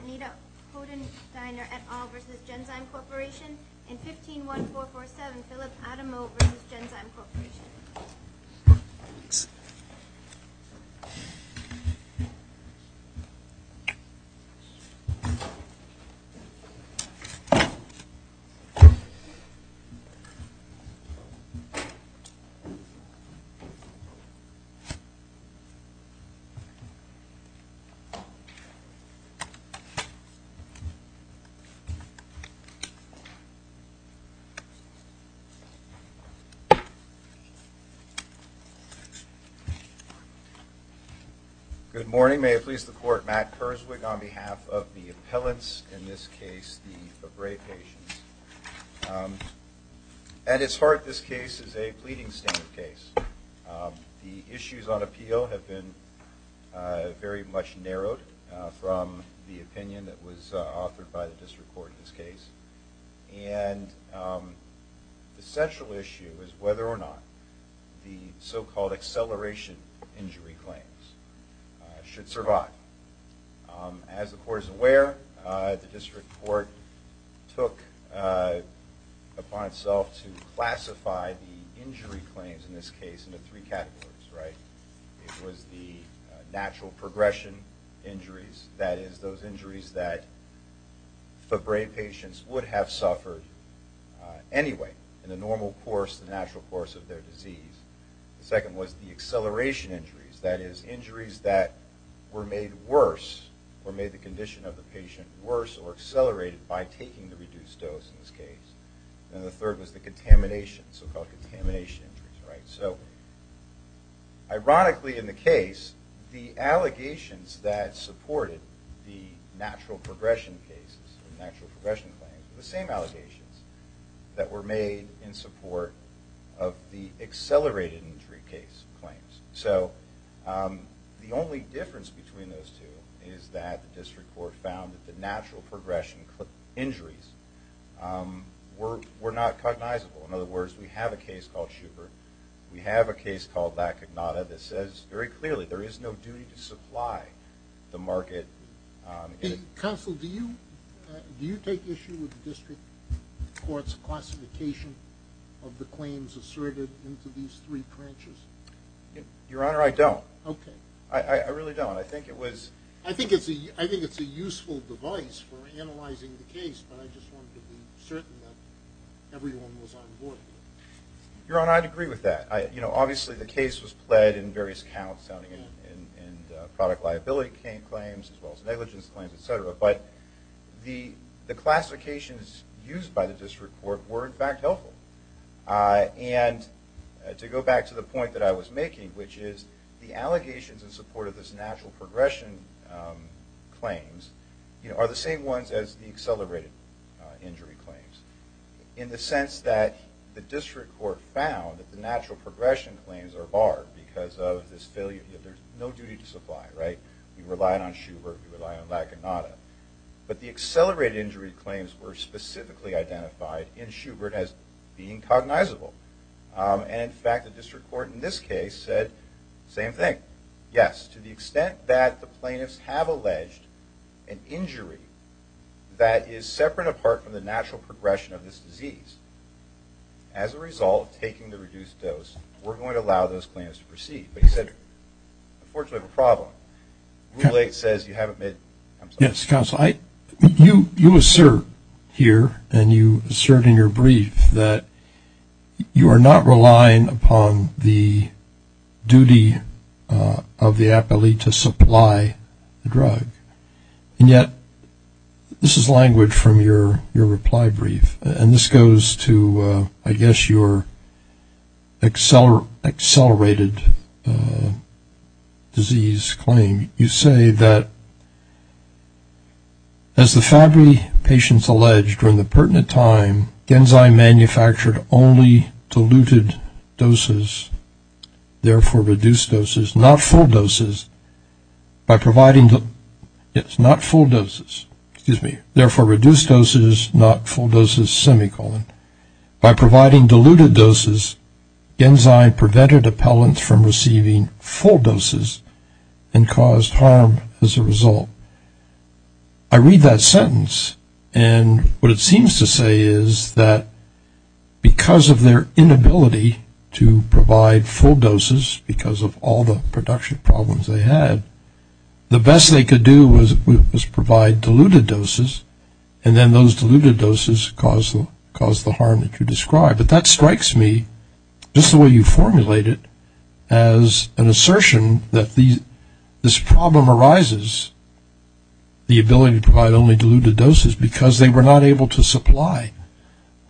Anita Hoden-Steiner et al. v. Genzyme Corporation and 15-1447 Phillip Adamo v. Genzyme Corporation Good morning. May it please the Court, Matt Kurzweig on behalf of the appellants, in this case the Abray patients. At its heart, this case is a pleading standard case. The issues on appeal have been very much narrowed from the opinion that was authored by the District Court in this case. And the central issue is whether or not the so-called acceleration injury claims should survive. As the Court is aware, the District Court took upon itself to classify the injury claims in this case into three categories. It was the natural progression injuries, that is, those injuries that Abray patients would have suffered anyway in the natural course of their disease. The second was the acceleration injuries, that is, injuries that were made worse or made the condition of the patient worse or accelerated by taking the reduced dose in this case. And the third was the contamination, so-called contamination injuries. Ironically, in the case, the allegations that supported the natural progression claims were the same allegations that were made in support of the accelerated injury claims. The only difference between those two is that the District Court found that the natural progression injuries were not cognizable. In other words, we have a case called Schubert. We have a case called Lacognata that says very clearly there is no duty to supply the market. Counsel, do you take issue with the District Court's classification of the claims asserted into these three branches? Your Honor, I don't. Okay. I really don't. I think it was... I think it's a useful device for analyzing the case, but I just wanted to be certain that everyone was on board with it. Your Honor, I'd agree with that. Obviously, the case was pled in various counts, including product liability claims as well as negligence claims, et cetera. But the classifications used by the District Court were, in fact, helpful. And to go back to the point that I was making, which is the allegations in support of this natural progression claims are the same ones as the accelerated injury claims, in the sense that the District Court found that the natural progression claims are barred because of this failure. There's no duty to supply, right? We relied on Schubert. We relied on Lacognata. But the accelerated injury claims were specifically identified in Schubert as being cognizable. And, in fact, the District Court in this case said the same thing. Yes, to the extent that the plaintiffs have alleged an injury that is separate apart from the natural progression of this disease, as a result of taking the reduced dose, we're going to allow those claims to proceed. But he said, unfortunately, we have a problem. Yes, Counsel. You assert here, and you assert in your brief, that you are not relying upon the duty of the appellee to supply the drug. And yet, this is language from your reply brief. And this goes to, I guess, your accelerated disease claim. You say that, as the Fabry patients alleged, during the pertinent time, Genzyme manufactured only diluted doses, therefore reduced doses, not full doses. By providing, yes, not full doses. Excuse me. Therefore, reduced doses, not full doses, semicolon. By providing diluted doses, Genzyme prevented appellants from receiving full doses and caused harm as a result. I read that sentence, and what it seems to say is that because of their inability to provide full doses, because of all the production problems they had, the best they could do was provide diluted doses, and then those diluted doses caused the harm that you described. But that strikes me, just the way you formulate it, as an assertion that this problem arises, the ability to provide only diluted doses, because they were not able to supply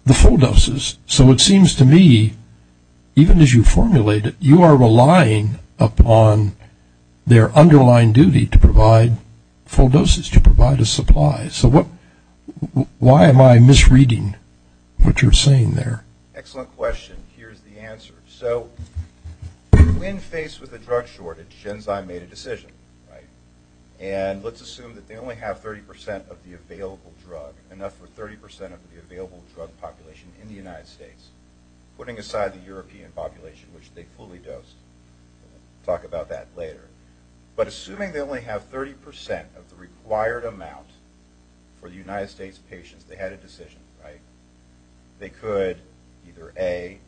the full doses. So it seems to me, even as you formulate it, you are relying upon their underlying duty to provide full doses, to provide a supply. So why am I misreading what you're saying there? Excellent question. Here's the answer. So when faced with a drug shortage, Genzyme made a decision, right? And let's assume that they only have 30 percent of the available drug, enough for 30 percent of the available drug population in the United States, putting aside the European population, which they fully dosed. We'll talk about that later. But assuming they only have 30 percent of the required amount for the United States patients, they had a decision, right? They could either, A,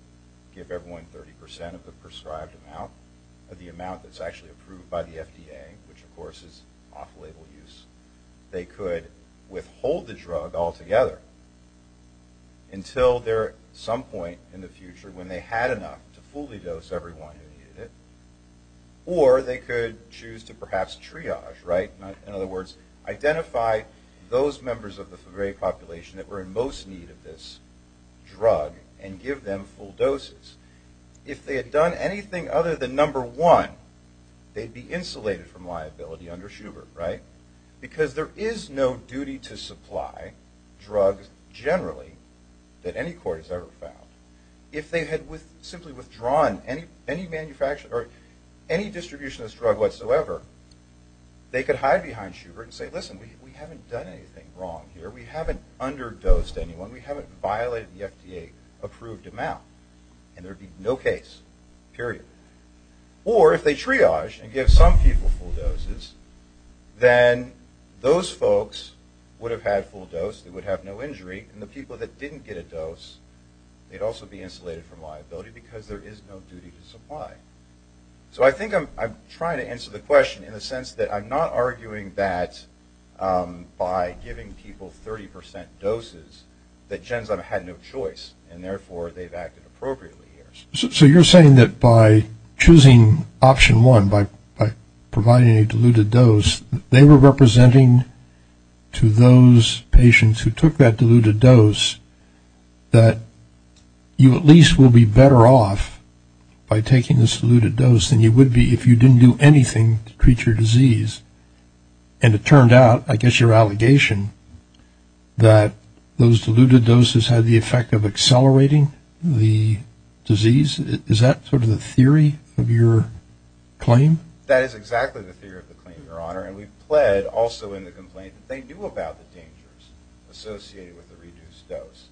give everyone 30 percent of the prescribed amount, of the amount that's actually approved by the FDA, which, of course, is off-label use. They could withhold the drug altogether until some point in the future, when they had enough to fully dose everyone who needed it. Or they could choose to perhaps triage, right? In other words, identify those members of the very population that were in most need of this drug and give them full doses. If they had done anything other than number one, they'd be insulated from liability under Schubert, right? Because there is no duty to supply drugs generally that any court has ever found. If they had simply withdrawn any distribution of this drug whatsoever, they could hide behind Schubert and say, listen, we haven't done anything wrong here. We haven't underdosed anyone. We haven't violated the FDA-approved amount. And there would be no case, period. Or if they triage and give some people full doses, then those folks would have had full dose. They would have no injury. And the people that didn't get a dose, they'd also be insulated from liability because there is no duty to supply. So I think I'm trying to answer the question in the sense that I'm not arguing that by giving people 30% doses, that Genzyme had no choice, and therefore they've acted appropriately here. So you're saying that by choosing option one, by providing a diluted dose, they were representing to those patients who took that diluted dose that you at least will be better off by taking this diluted dose than you would be if you didn't do anything to treat your disease. And it turned out, I guess your allegation, that those diluted doses had the effect of accelerating the disease. Is that sort of the theory of your claim? That is exactly the theory of the claim, Your Honor. And we've pled also in the complaint that they knew about the dangers associated with the reduced dose.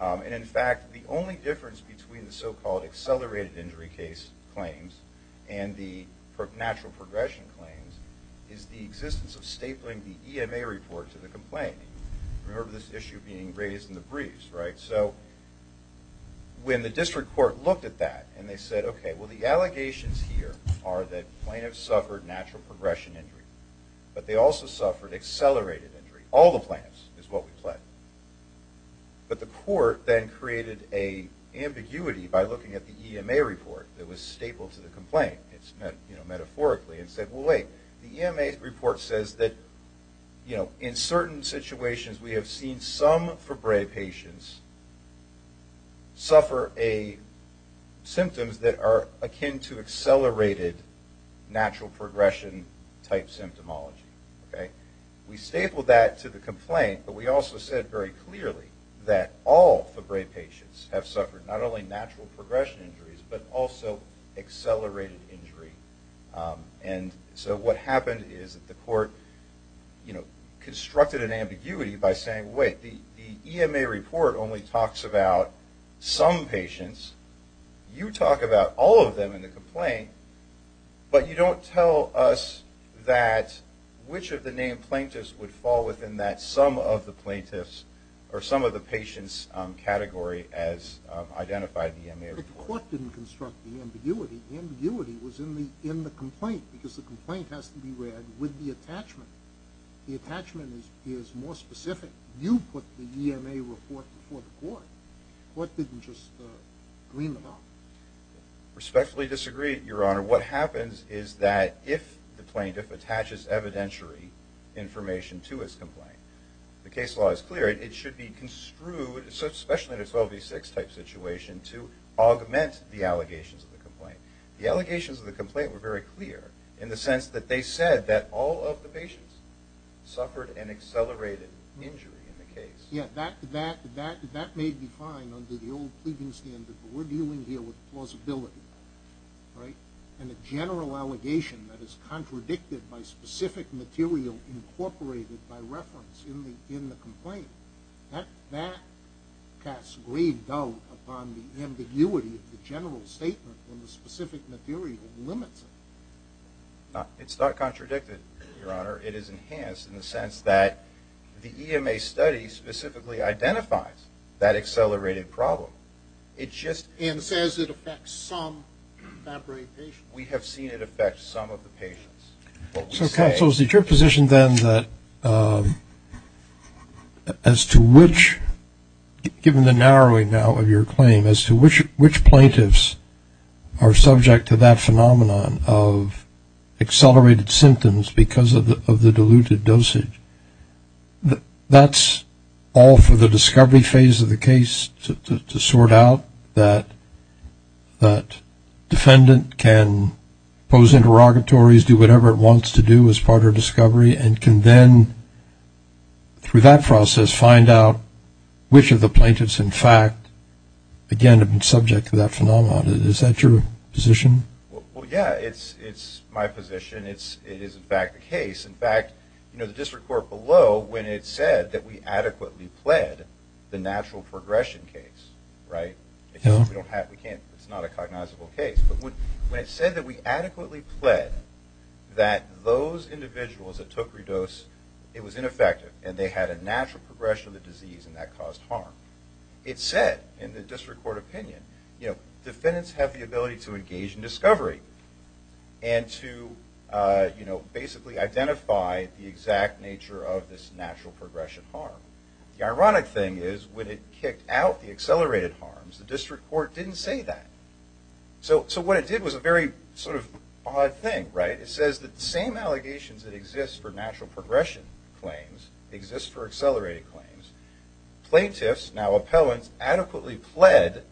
And, in fact, the only difference between the so-called accelerated injury case claims and the natural progression claims is the existence of stapling the EMA report to the complaint. Remember this issue being raised in the briefs, right? So when the district court looked at that and they said, okay, well the allegations here are that plaintiffs suffered natural progression injury, but they also suffered accelerated injury. All the plaintiffs is what we pled. But the court then created an ambiguity by looking at the EMA report that was stapled to the complaint, metaphorically, and said, well, wait, the EMA report says that, you know, in certain situations we have seen some Febrez patients suffer symptoms that are akin to accelerated natural progression-type symptomology. We stapled that to the complaint, but we also said very clearly that all Febrez patients have suffered not only natural progression injuries, but also accelerated injury. And so what happened is that the court, you know, constructed an ambiguity by saying, wait, the EMA report only talks about some patients. You talk about all of them in the complaint, but you don't tell us that which of the named plaintiffs would fall within that some of the plaintiffs or some of the patients category as identified in the EMA report. But the court didn't construct the ambiguity. The ambiguity was in the complaint because the complaint has to be read with the attachment. The attachment is more specific. You put the EMA report before the court. The court didn't just green the box. Respectfully disagree, Your Honor. What happens is that if the plaintiff attaches evidentiary information to his complaint, the case law is clear. It should be construed, especially in a 12v6-type situation, to augment the allegations of the complaint. The allegations of the complaint were very clear in the sense that they said that all of the patients suffered an accelerated injury in the case. Yeah, that may be fine under the old pleading standard, but we're dealing here with plausibility, right, and a general allegation that is contradicted by specific material incorporated by reference in the complaint. That casts grave doubt upon the ambiguity of the general statement when the specific material limits it. It's not contradicted, Your Honor. It is enhanced in the sense that the EMA study specifically identifies that accelerated problem. And says it affects some contemporary patients. We have seen it affect some of the patients. So, counsel, is it your position then that as to which, given the narrowing now of your claim, as to which plaintiffs are subject to that phenomenon of accelerated symptoms because of the diluted dosage, that's all for the discovery phase of the case to sort out, that defendant can pose interrogatories, do whatever it wants to do as part of discovery, and can then, through that process, find out which of the plaintiffs, in fact, again, have been subject to that phenomenon. Is that your position? Well, yeah, it's my position. It is, in fact, the case. In fact, you know, the district court below, when it said that we adequately pled the natural progression case, right, because we don't have, we can't, it's not a cognizable case. But when it said that we adequately pled that those individuals that took Redose, it was ineffective, and they had a natural progression of the disease, and that caused harm. It said in the district court opinion, you know, defendants have the ability to engage in discovery and to, you know, basically identify the exact nature of this natural progression harm. The ironic thing is when it kicked out the accelerated harms, the district court didn't say that. So what it did was a very sort of odd thing, right? It says that the same allegations that exist for natural progression claims exist for accelerated claims. Plaintiffs, now appellants, adequately pled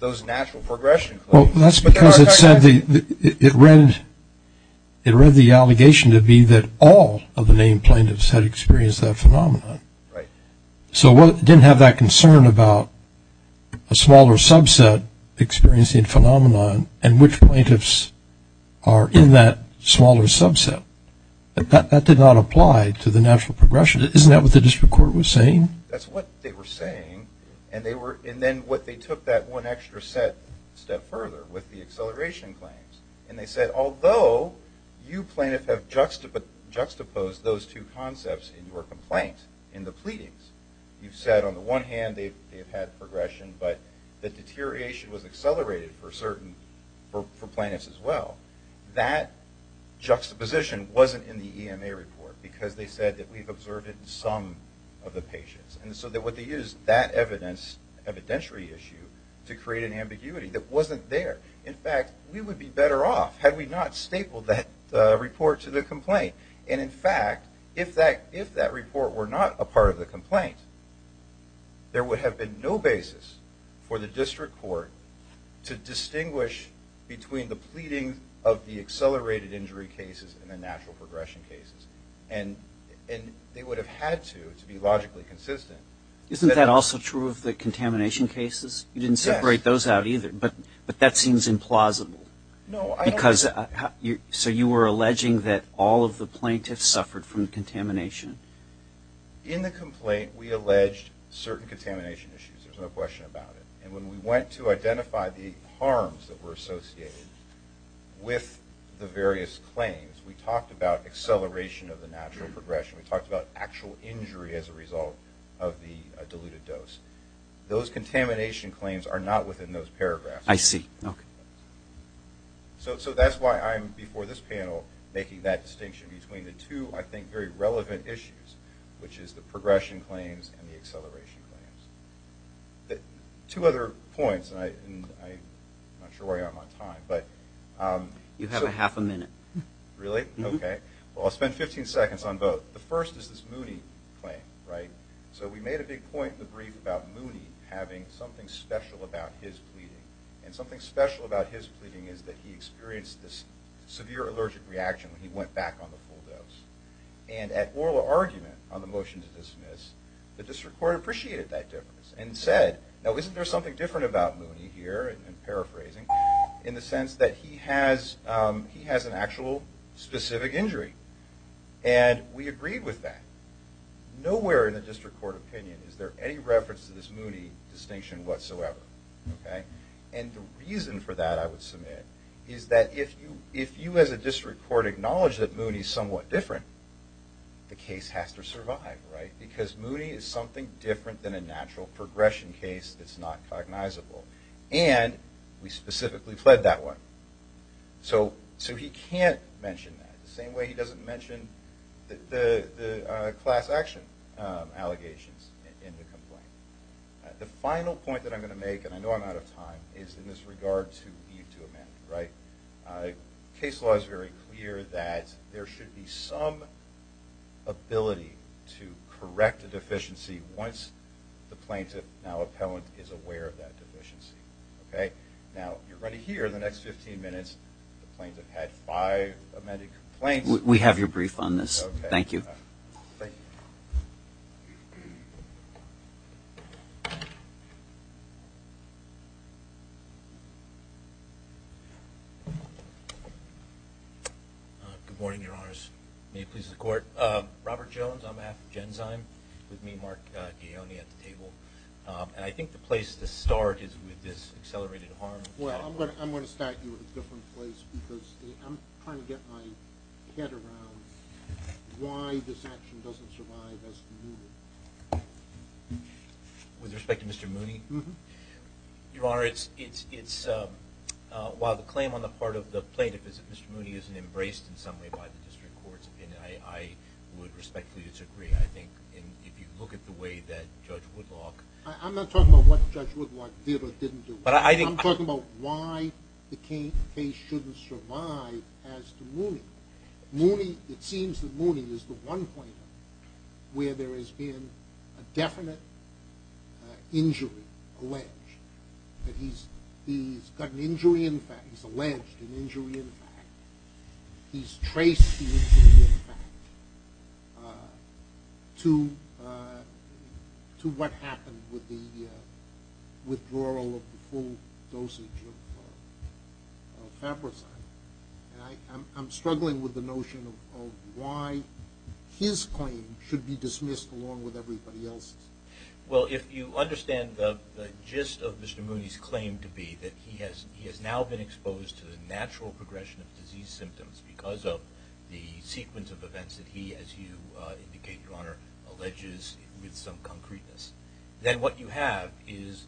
those natural progression claims. Well, that's because it said, it read the allegation to be that all of the named plaintiffs had experienced that phenomenon. Right. So it didn't have that concern about a smaller subset experiencing phenomenon and which plaintiffs are in that smaller subset. That did not apply to the natural progression. Isn't that what the district court was saying? That's what they were saying, and then what they took that one extra step further with the acceleration claims, and they said, although you plaintiffs have juxtaposed those two concepts in your complaint, in the pleadings, you've said on the one hand they've had progression, but the deterioration was accelerated for plaintiffs as well. That juxtaposition wasn't in the EMA report because they said that we've observed it in some of the patients. And so what they used that evidence, evidentiary issue, to create an ambiguity that wasn't there. In fact, we would be better off had we not stapled that report to the complaint. And in fact, if that report were not a part of the complaint, there would have been no basis for the district court to distinguish between the pleading of the accelerated injury cases and the natural progression cases, and they would have had to, to be logically consistent. Isn't that also true of the contamination cases? Yes. You didn't separate those out either, but that seems implausible. No, I don't think so. So you were alleging that all of the plaintiffs suffered from contamination. In the complaint, we alleged certain contamination issues. There's no question about it. And when we went to identify the harms that were associated with the various claims, we talked about acceleration of the natural progression. We talked about actual injury as a result of the diluted dose. Those contamination claims are not within those paragraphs. I see. Okay. So that's why I'm, before this panel, making that distinction between the two, I think, very relevant issues, which is the progression claims and the acceleration claims. Two other points, and I'm not sure why I'm on time. You have half a minute. Really? Okay. Well, I'll spend 15 seconds on both. The first is this Mooney claim, right? So we made a big point in the brief about Mooney having something special about his pleading and something special about his pleading is that he experienced this severe allergic reaction when he went back on the full dose. And at oral argument on the motion to dismiss, the district court appreciated that difference and said, now, isn't there something different about Mooney here, and paraphrasing, in the sense that he has an actual specific injury? And we agreed with that. Nowhere in the district court opinion is there any reference to this Mooney distinction whatsoever. And the reason for that, I would submit, is that if you as a district court acknowledge that Mooney is somewhat different, the case has to survive, right? Because Mooney is something different than a natural progression case that's not cognizable. And we specifically fled that one. So he can't mention that, the same way he doesn't mention the class action allegations in the complaint. The final point that I'm going to make, and I know I'm out of time, is in this regard to need to amend, right? Case law is very clear that there should be some ability to correct a deficiency once the plaintiff, now appellant, is aware of that deficiency, okay? Now, you're going to hear in the next 15 minutes the plaintiff had five amended complaints. We have your brief on this. Okay. Thank you. Thank you. Good morning, Your Honors. May it please the Court. Robert Jones, on behalf of Genzyme, with me, Mark Gaglione at the table. And I think the place to start is with this accelerated harm. Well, I'm going to start you in a different place because I'm trying to get my head around why this action doesn't survive as commuted. With respect to Mr. Mooney? Mm-hmm. Your Honor, while the claim on the part of the plaintiff is that Mr. Mooney isn't embraced in some way by the district court's opinion, I would respectfully disagree. I think if you look at the way that Judge Woodlock I'm not talking about what Judge Woodlock did or didn't do. I'm talking about why the case shouldn't survive as to Mooney. It seems that Mooney is the one plaintiff where there has been a definite injury alleged. He's got an injury in fact. He's alleged an injury in fact. He's traced the injury in fact to what happened with the withdrawal of the full dosage of Fabricide. And I'm struggling with the notion of why his claim should be dismissed along with everybody else's. Well, if you understand the gist of Mr. Mooney's claim to be that he has now been exposed to the natural progression of disease symptoms because of the sequence of events that he, as you indicate, Your Honor, alleges with some concreteness, then what you have is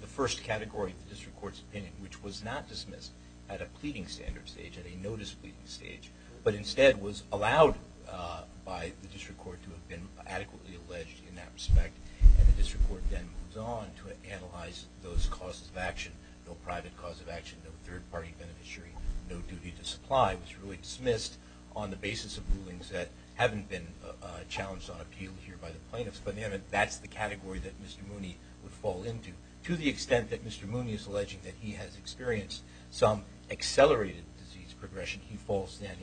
the first category of the district court's opinion, which was not dismissed at a pleading standard stage, at a no-displeasing stage, but instead was allowed by the district court to have been adequately alleged in that respect. And the district court then moves on to analyze those causes of action, no private cause of action, no third-party beneficiary, no duty to supply. It was really dismissed on the basis of rulings that haven't been challenged on appeal here by the plaintiffs. But that's the category that Mr. Mooney would fall into. To the extent that Mr. Mooney is alleging that he has experienced some accelerated disease progression, I think he falls then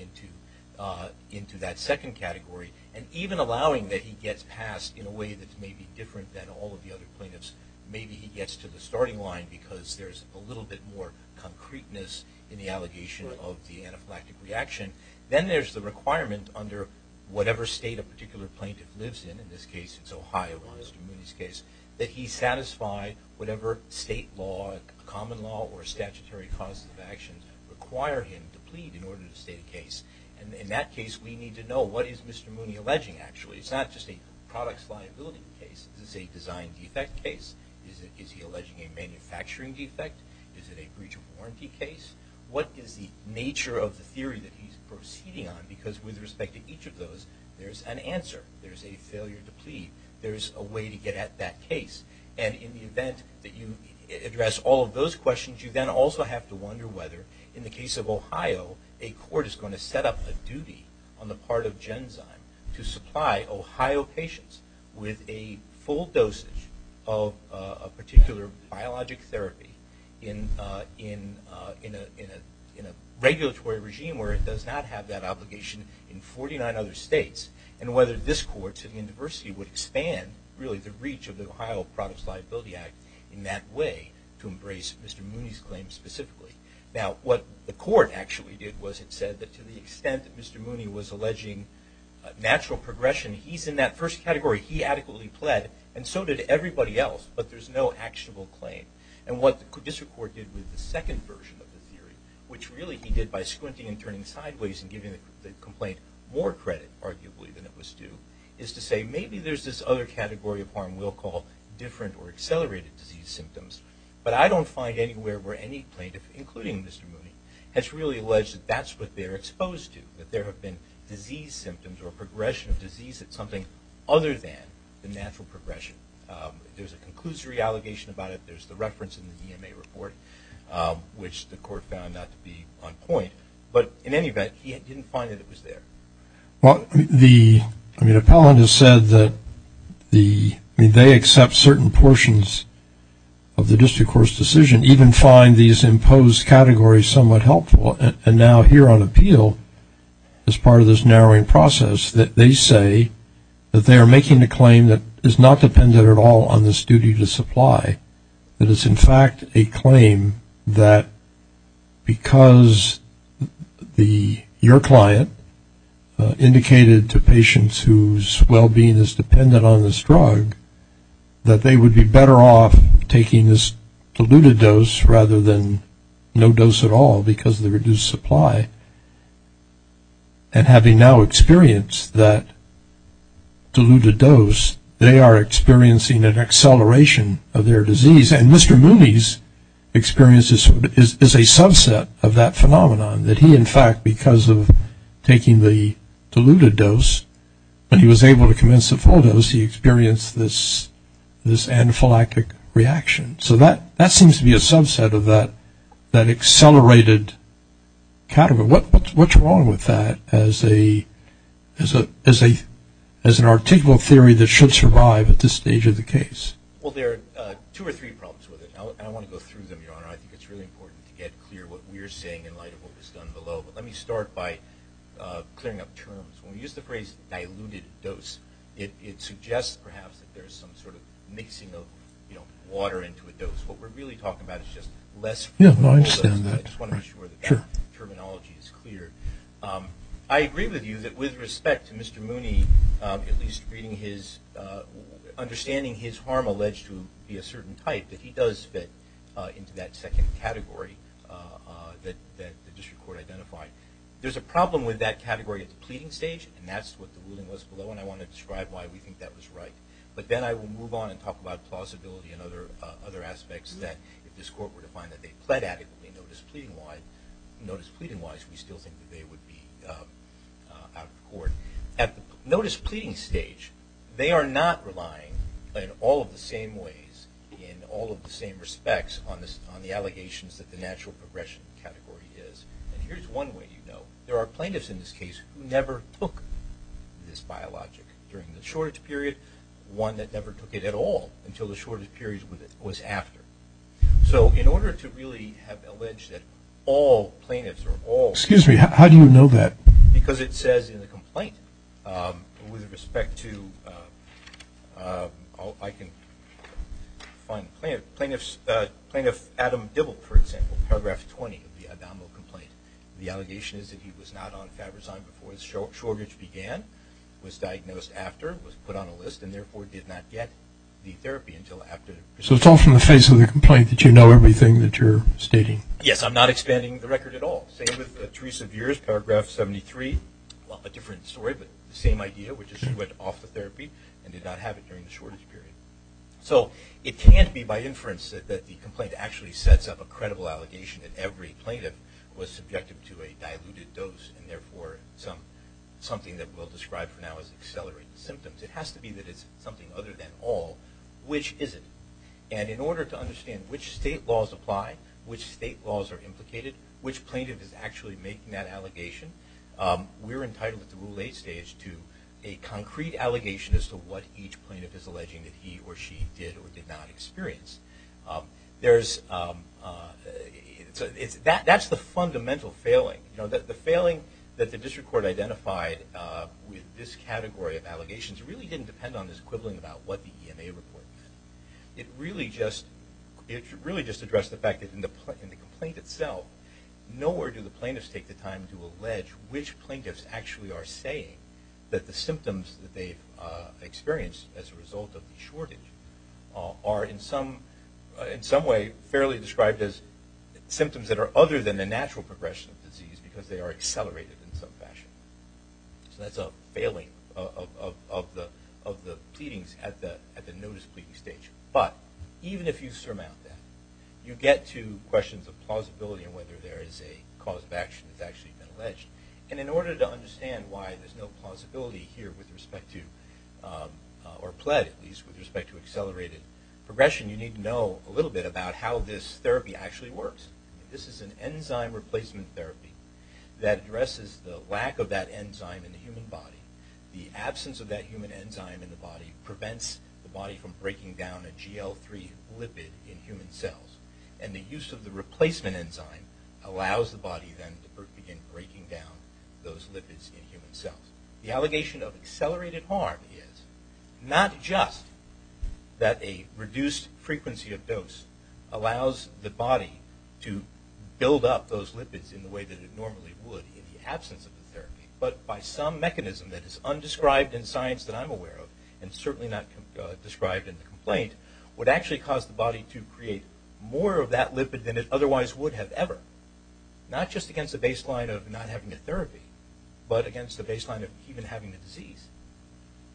into that second category. And even allowing that he gets past in a way that's maybe different than all of the other plaintiffs, maybe he gets to the starting line because there's a little bit more concreteness in the allegation of the anaphylactic reaction. Then there's the requirement under whatever state a particular plaintiff lives in, in this case it's Ohio in Mr. Mooney's case, that he satisfy whatever state law, common law, or statutory causes of action require him to plead in order to state a case. And in that case we need to know what is Mr. Mooney alleging actually. It's not just a products liability case. Is this a design defect case? Is he alleging a manufacturing defect? Is it a breach of warranty case? What is the nature of the theory that he's proceeding on? Because with respect to each of those there's an answer. There's a failure to plead. There's a way to get at that case. And in the event that you address all of those questions you then also have to wonder whether in the case of Ohio a court is going to set up a duty on the part of Genzyme to supply Ohio patients with a full dosage of a particular biologic therapy in a regulatory regime where it does not have that obligation in 49 other states. And whether this court to the university would expand really the reach of the Ohio Products Liability Act in that way to embrace Mr. Mooney's claim specifically. Now what the court actually did was it said that to the extent that Mr. Mooney was alleging natural progression, he's in that first category. He adequately pled and so did everybody else. But there's no actionable claim. And what the district court did with the second version of the theory, which really he did by squinting and turning sideways and giving the complaint more credit arguably than it was due, is to say maybe there's this other category of harm we'll call different or accelerated disease symptoms. But I don't find anywhere where any plaintiff, including Mr. Mooney, has really alleged that that's what they're exposed to, that there have been disease symptoms or progression of disease that's something other than the natural progression. There's a conclusory allegation about it. There's the reference in the EMA report, which the court found not to be on point. But in any event, he didn't find that it was there. Well, the appellant has said that they accept certain portions of the district court's decision, even find these imposed categories somewhat helpful. And now here on appeal, as part of this narrowing process, they say that they are making a claim that is not dependent at all on this duty to supply, that it's in fact a claim that because your client indicated to patients whose well-being is dependent on this drug, that they would be better off taking this diluted dose rather than no dose at all because of the reduced supply. And having now experienced that diluted dose, they are experiencing an acceleration of their disease. And Mr. Mooney's experience is a subset of that phenomenon, that he, in fact, because of taking the diluted dose, when he was able to commence the full dose, he experienced this anaphylactic reaction. So that seems to be a subset of that accelerated category. What's wrong with that as an articulable theory that should survive at this stage of the case? Well, there are two or three problems with it, and I want to go through them, Your Honor. I think it's really important to get clear what we are saying in light of what was done below. But let me start by clearing up terms. When we use the phrase diluted dose, it suggests, perhaps, that there is some sort of mixing of water into a dose. What we're really talking about is just less fluid. Yes, I understand that. I just want to make sure the terminology is clear. I agree with you that with respect to Mr. Mooney at least understanding his harm alleged to be a certain type, that he does fit into that second category that the district court identified. There's a problem with that category at the pleading stage, and that's what the ruling was below. And I want to describe why we think that was right. But then I will move on and talk about plausibility and other aspects that, if this court were to find that they pled adequately notice pleading-wise, we still think that they would be out of court. At the notice pleading stage, they are not relying in all of the same ways, in all of the same respects on the allegations that the natural progression category is. And here's one way you know. There are plaintiffs in this case who never took this biologic during the shortage period, one that never took it at all until the shortage period was after. So in order to really have alleged that all plaintiffs are all... Excuse me. How do you know that? Because it says in the complaint with respect to... Fine. Plaintiff Adam Dibble, for example, Paragraph 20 of the abdominal complaint, the allegation is that he was not on Fabrizyme before the shortage began, was diagnosed after, was put on a list, and therefore did not get the therapy until after... So it's all from the face of the complaint that you know everything that you're stating. Yes, I'm not expanding the record at all. Same with Teresa Viers, Paragraph 73, a different story, but the same idea, which is she went off the therapy and did not have it during the shortage period. So it can't be by inference that the complaint actually sets up a credible allegation that every plaintiff was subjected to a diluted dose and therefore something that we'll describe for now is accelerated symptoms. It has to be that it's something other than all. Which is it? And in order to understand which state laws apply, which state laws are implicated, which plaintiff is actually making that allegation, we're entitled at the Rule 8 stage to a concrete allegation as to what each plaintiff is alleging that he or she did or did not experience. That's the fundamental failing. The failing that the district court identified with this category of allegations really didn't depend on this equivalent about what the EMA report meant. It really just addressed the fact that in the complaint itself, nowhere do the plaintiffs take the time to allege which plaintiffs actually are saying that the symptoms that they've experienced as a result of the shortage are in some way fairly described as symptoms that are other than the natural progression of disease because they are accelerated in some fashion. So that's a failing of the pleadings at the notice pleading stage. But even if you surmount that, you get to questions of plausibility and whether there is a cause of action that's actually been alleged. In order to understand why there's no plausibility here with respect to, or plead at least, with respect to accelerated progression, you need to know a little bit about how this therapy actually works. This is an enzyme replacement therapy that addresses the lack of that enzyme in the human body. The absence of that human enzyme in the body prevents the body from breaking down a GL3 lipid in human cells. And the use of the replacement enzyme allows the body then to begin breaking down those lipids in human cells. The allegation of accelerated harm is not just that a reduced frequency of dose allows the body to build up those lipids in the way that it normally would in the absence of the therapy, but by some mechanism that is undescribed in science that I'm aware of and certainly not described in the complaint, would actually cause the body to create more of that lipid than it otherwise would have ever, not just against the baseline of not having the therapy, but against the baseline of even having the disease.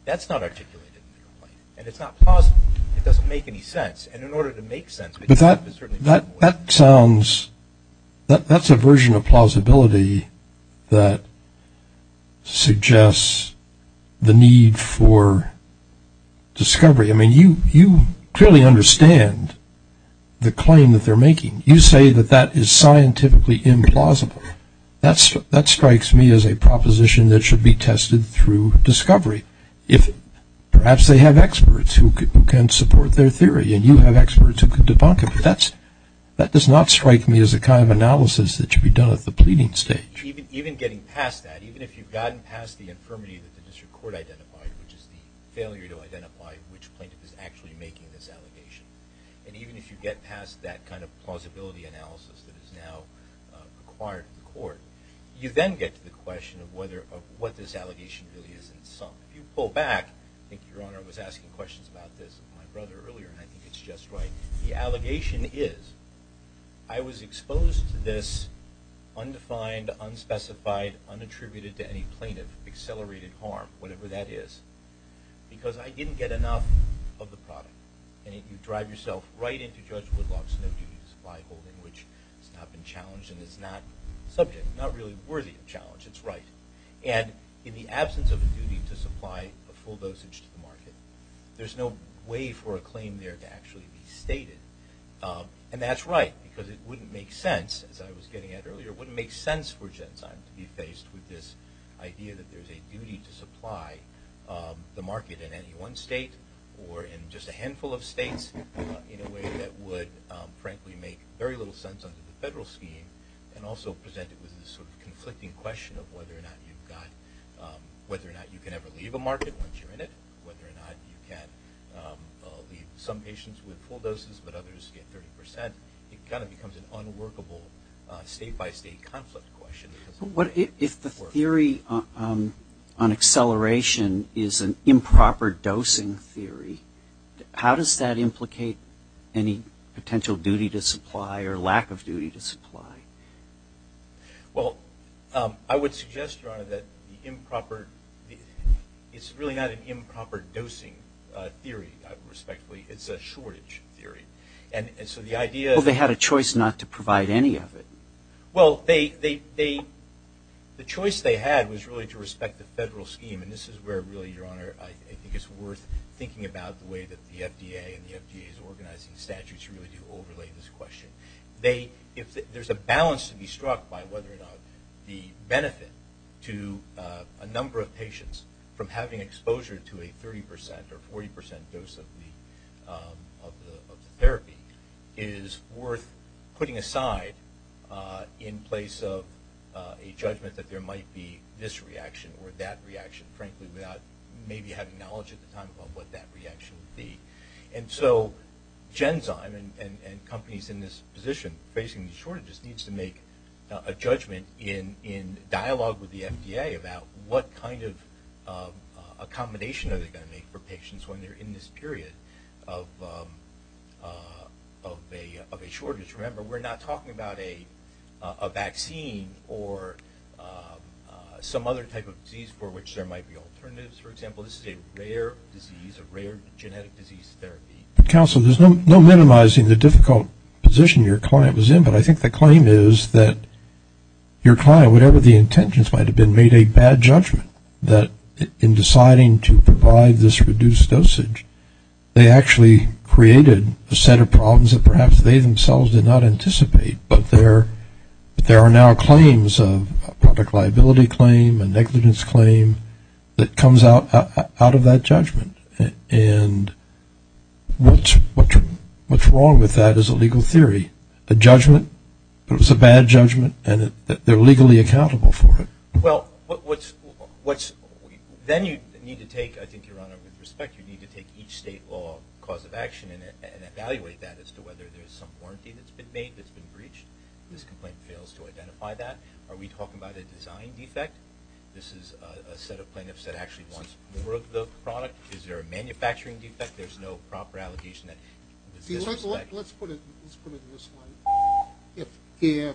That's not articulated in the complaint. And it's not plausible. It doesn't make any sense. And in order to make sense of it, it's certainly not the way to do it. But that sounds, that's a version of plausibility that suggests the need for discovery. I mean, you clearly understand the claim that they're making. You say that that is scientifically implausible. That strikes me as a proposition that should be tested through discovery. Perhaps they have experts who can support their theory, and you have experts who can debunk it. But that does not strike me as the kind of analysis that should be done at the pleading stage. Even getting past that, even if you've gotten past the infirmity that the district court identified, which is the failure to identify which plaintiff is actually making this allegation, and even if you get past that kind of plausibility analysis that is now required in court, you then get to the question of what this allegation really is in sum. If you pull back, I think Your Honor was asking questions about this with my brother earlier, and I think it's just right. The allegation is I was exposed to this undefined, unspecified, unattributed to any plaintiff, accelerated harm, whatever that is, because I didn't get enough of the product. And you drive yourself right into Judge Woodlock's no duties by holding, which has not been challenged and is not subject, not really worthy of challenge. It's right. And in the absence of a duty to supply a full dosage to the market, there's no way for a claim there to actually be stated. And that's right, because it wouldn't make sense, as I was getting at earlier, it wouldn't make sense for Genzyme to be faced with this idea that there's a duty to supply the market in any one state or in just a handful of states in a way that would, frankly, make very little sense under the federal scheme and also present it with this sort of conflicting question of whether or not you can ever leave a market once you're in it, whether or not you can leave some patients with full doses but others get 30%. It kind of becomes an unworkable state-by-state conflict question. If the theory on acceleration is an improper dosing theory, how does that implicate any potential duty to supply or lack of duty to supply? Well, I would suggest, Your Honor, that it's really not an improper dosing theory, respectfully. It's a shortage theory. Well, they had a choice not to provide any of it. Well, the choice they had was really to respect the federal scheme, and this is where, really, Your Honor, I think it's worth thinking about the way that the FDA and the FDA's organizing statutes really do overlay this question. There's a balance to be struck by whether or not the benefit to a number of patients from having exposure to a 30% or 40% dose of the therapy is worth putting aside in place of a judgment that there might be this reaction or that reaction, frankly, without maybe having knowledge at the time about what that reaction would be. And so Genzyme and companies in this position facing the shortage just needs to make a judgment in dialogue with the FDA about what kind of accommodation are they going to make for patients when they're in this period of a shortage. Remember, we're not talking about a vaccine or some other type of disease for which there might be alternatives, for example. This is a rare disease, a rare genetic disease therapy. Counsel, there's no minimizing the difficult position your client was in, but I think the claim is that your client, whatever the intentions might have been, made a bad judgment that in deciding to provide this reduced dosage, they actually created a set of problems that perhaps they themselves did not anticipate, but there are now claims of a product liability claim, a negligence claim, that comes out of that judgment. And what's wrong with that is a legal theory. A judgment, but it was a bad judgment, and they're legally accountable for it. Well, then you need to take, I think, Your Honor, with respect, you need to take each state law cause of action and evaluate that as to whether there's some warranty that's been made that's been breached. This complaint fails to identify that. Are we talking about a design defect? This is a set of plaintiffs that actually wants more of the product. Is there a manufacturing defect? There's no proper allocation. Let's put it this way. If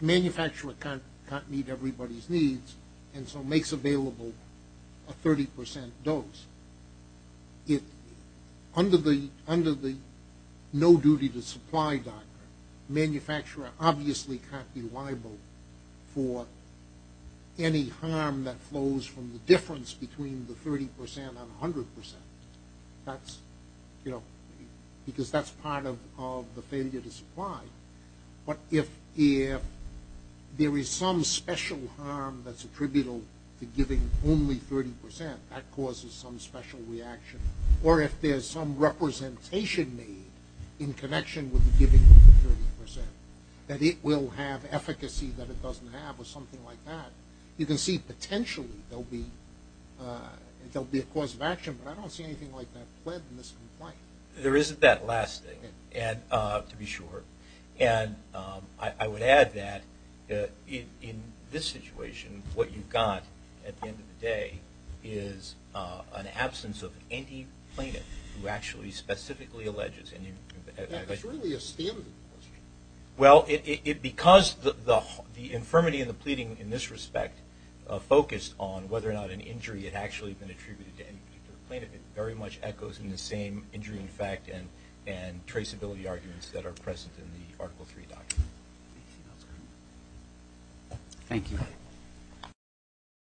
manufacturer can't meet everybody's needs and so makes available a 30% dose, under the no duty to supply doctrine, manufacturer obviously can't be liable for any harm that flows from the difference between the 30% and 100%, because that's part of the failure to supply. But if there is some special harm that's attributable to giving only 30%, that causes some special reaction. Or if there's some representation made in connection with the giving of the 30%, that it will have efficacy that it doesn't have or something like that, you can see potentially there'll be a cause of action, but I don't see anything like that pledged in this complaint. There isn't that last thing, to be sure. And I would add that in this situation, what you've got at the end of the day is an absence of any plaintiff who actually specifically alleges any of that. That's really a standard question. Well, because the infirmity and the pleading in this respect focused on whether or not an injury had actually been attributed to any particular plaintiff, it very much echoes in the same injury in fact and traceability arguments that are present in the Article III doctrine. Thank you.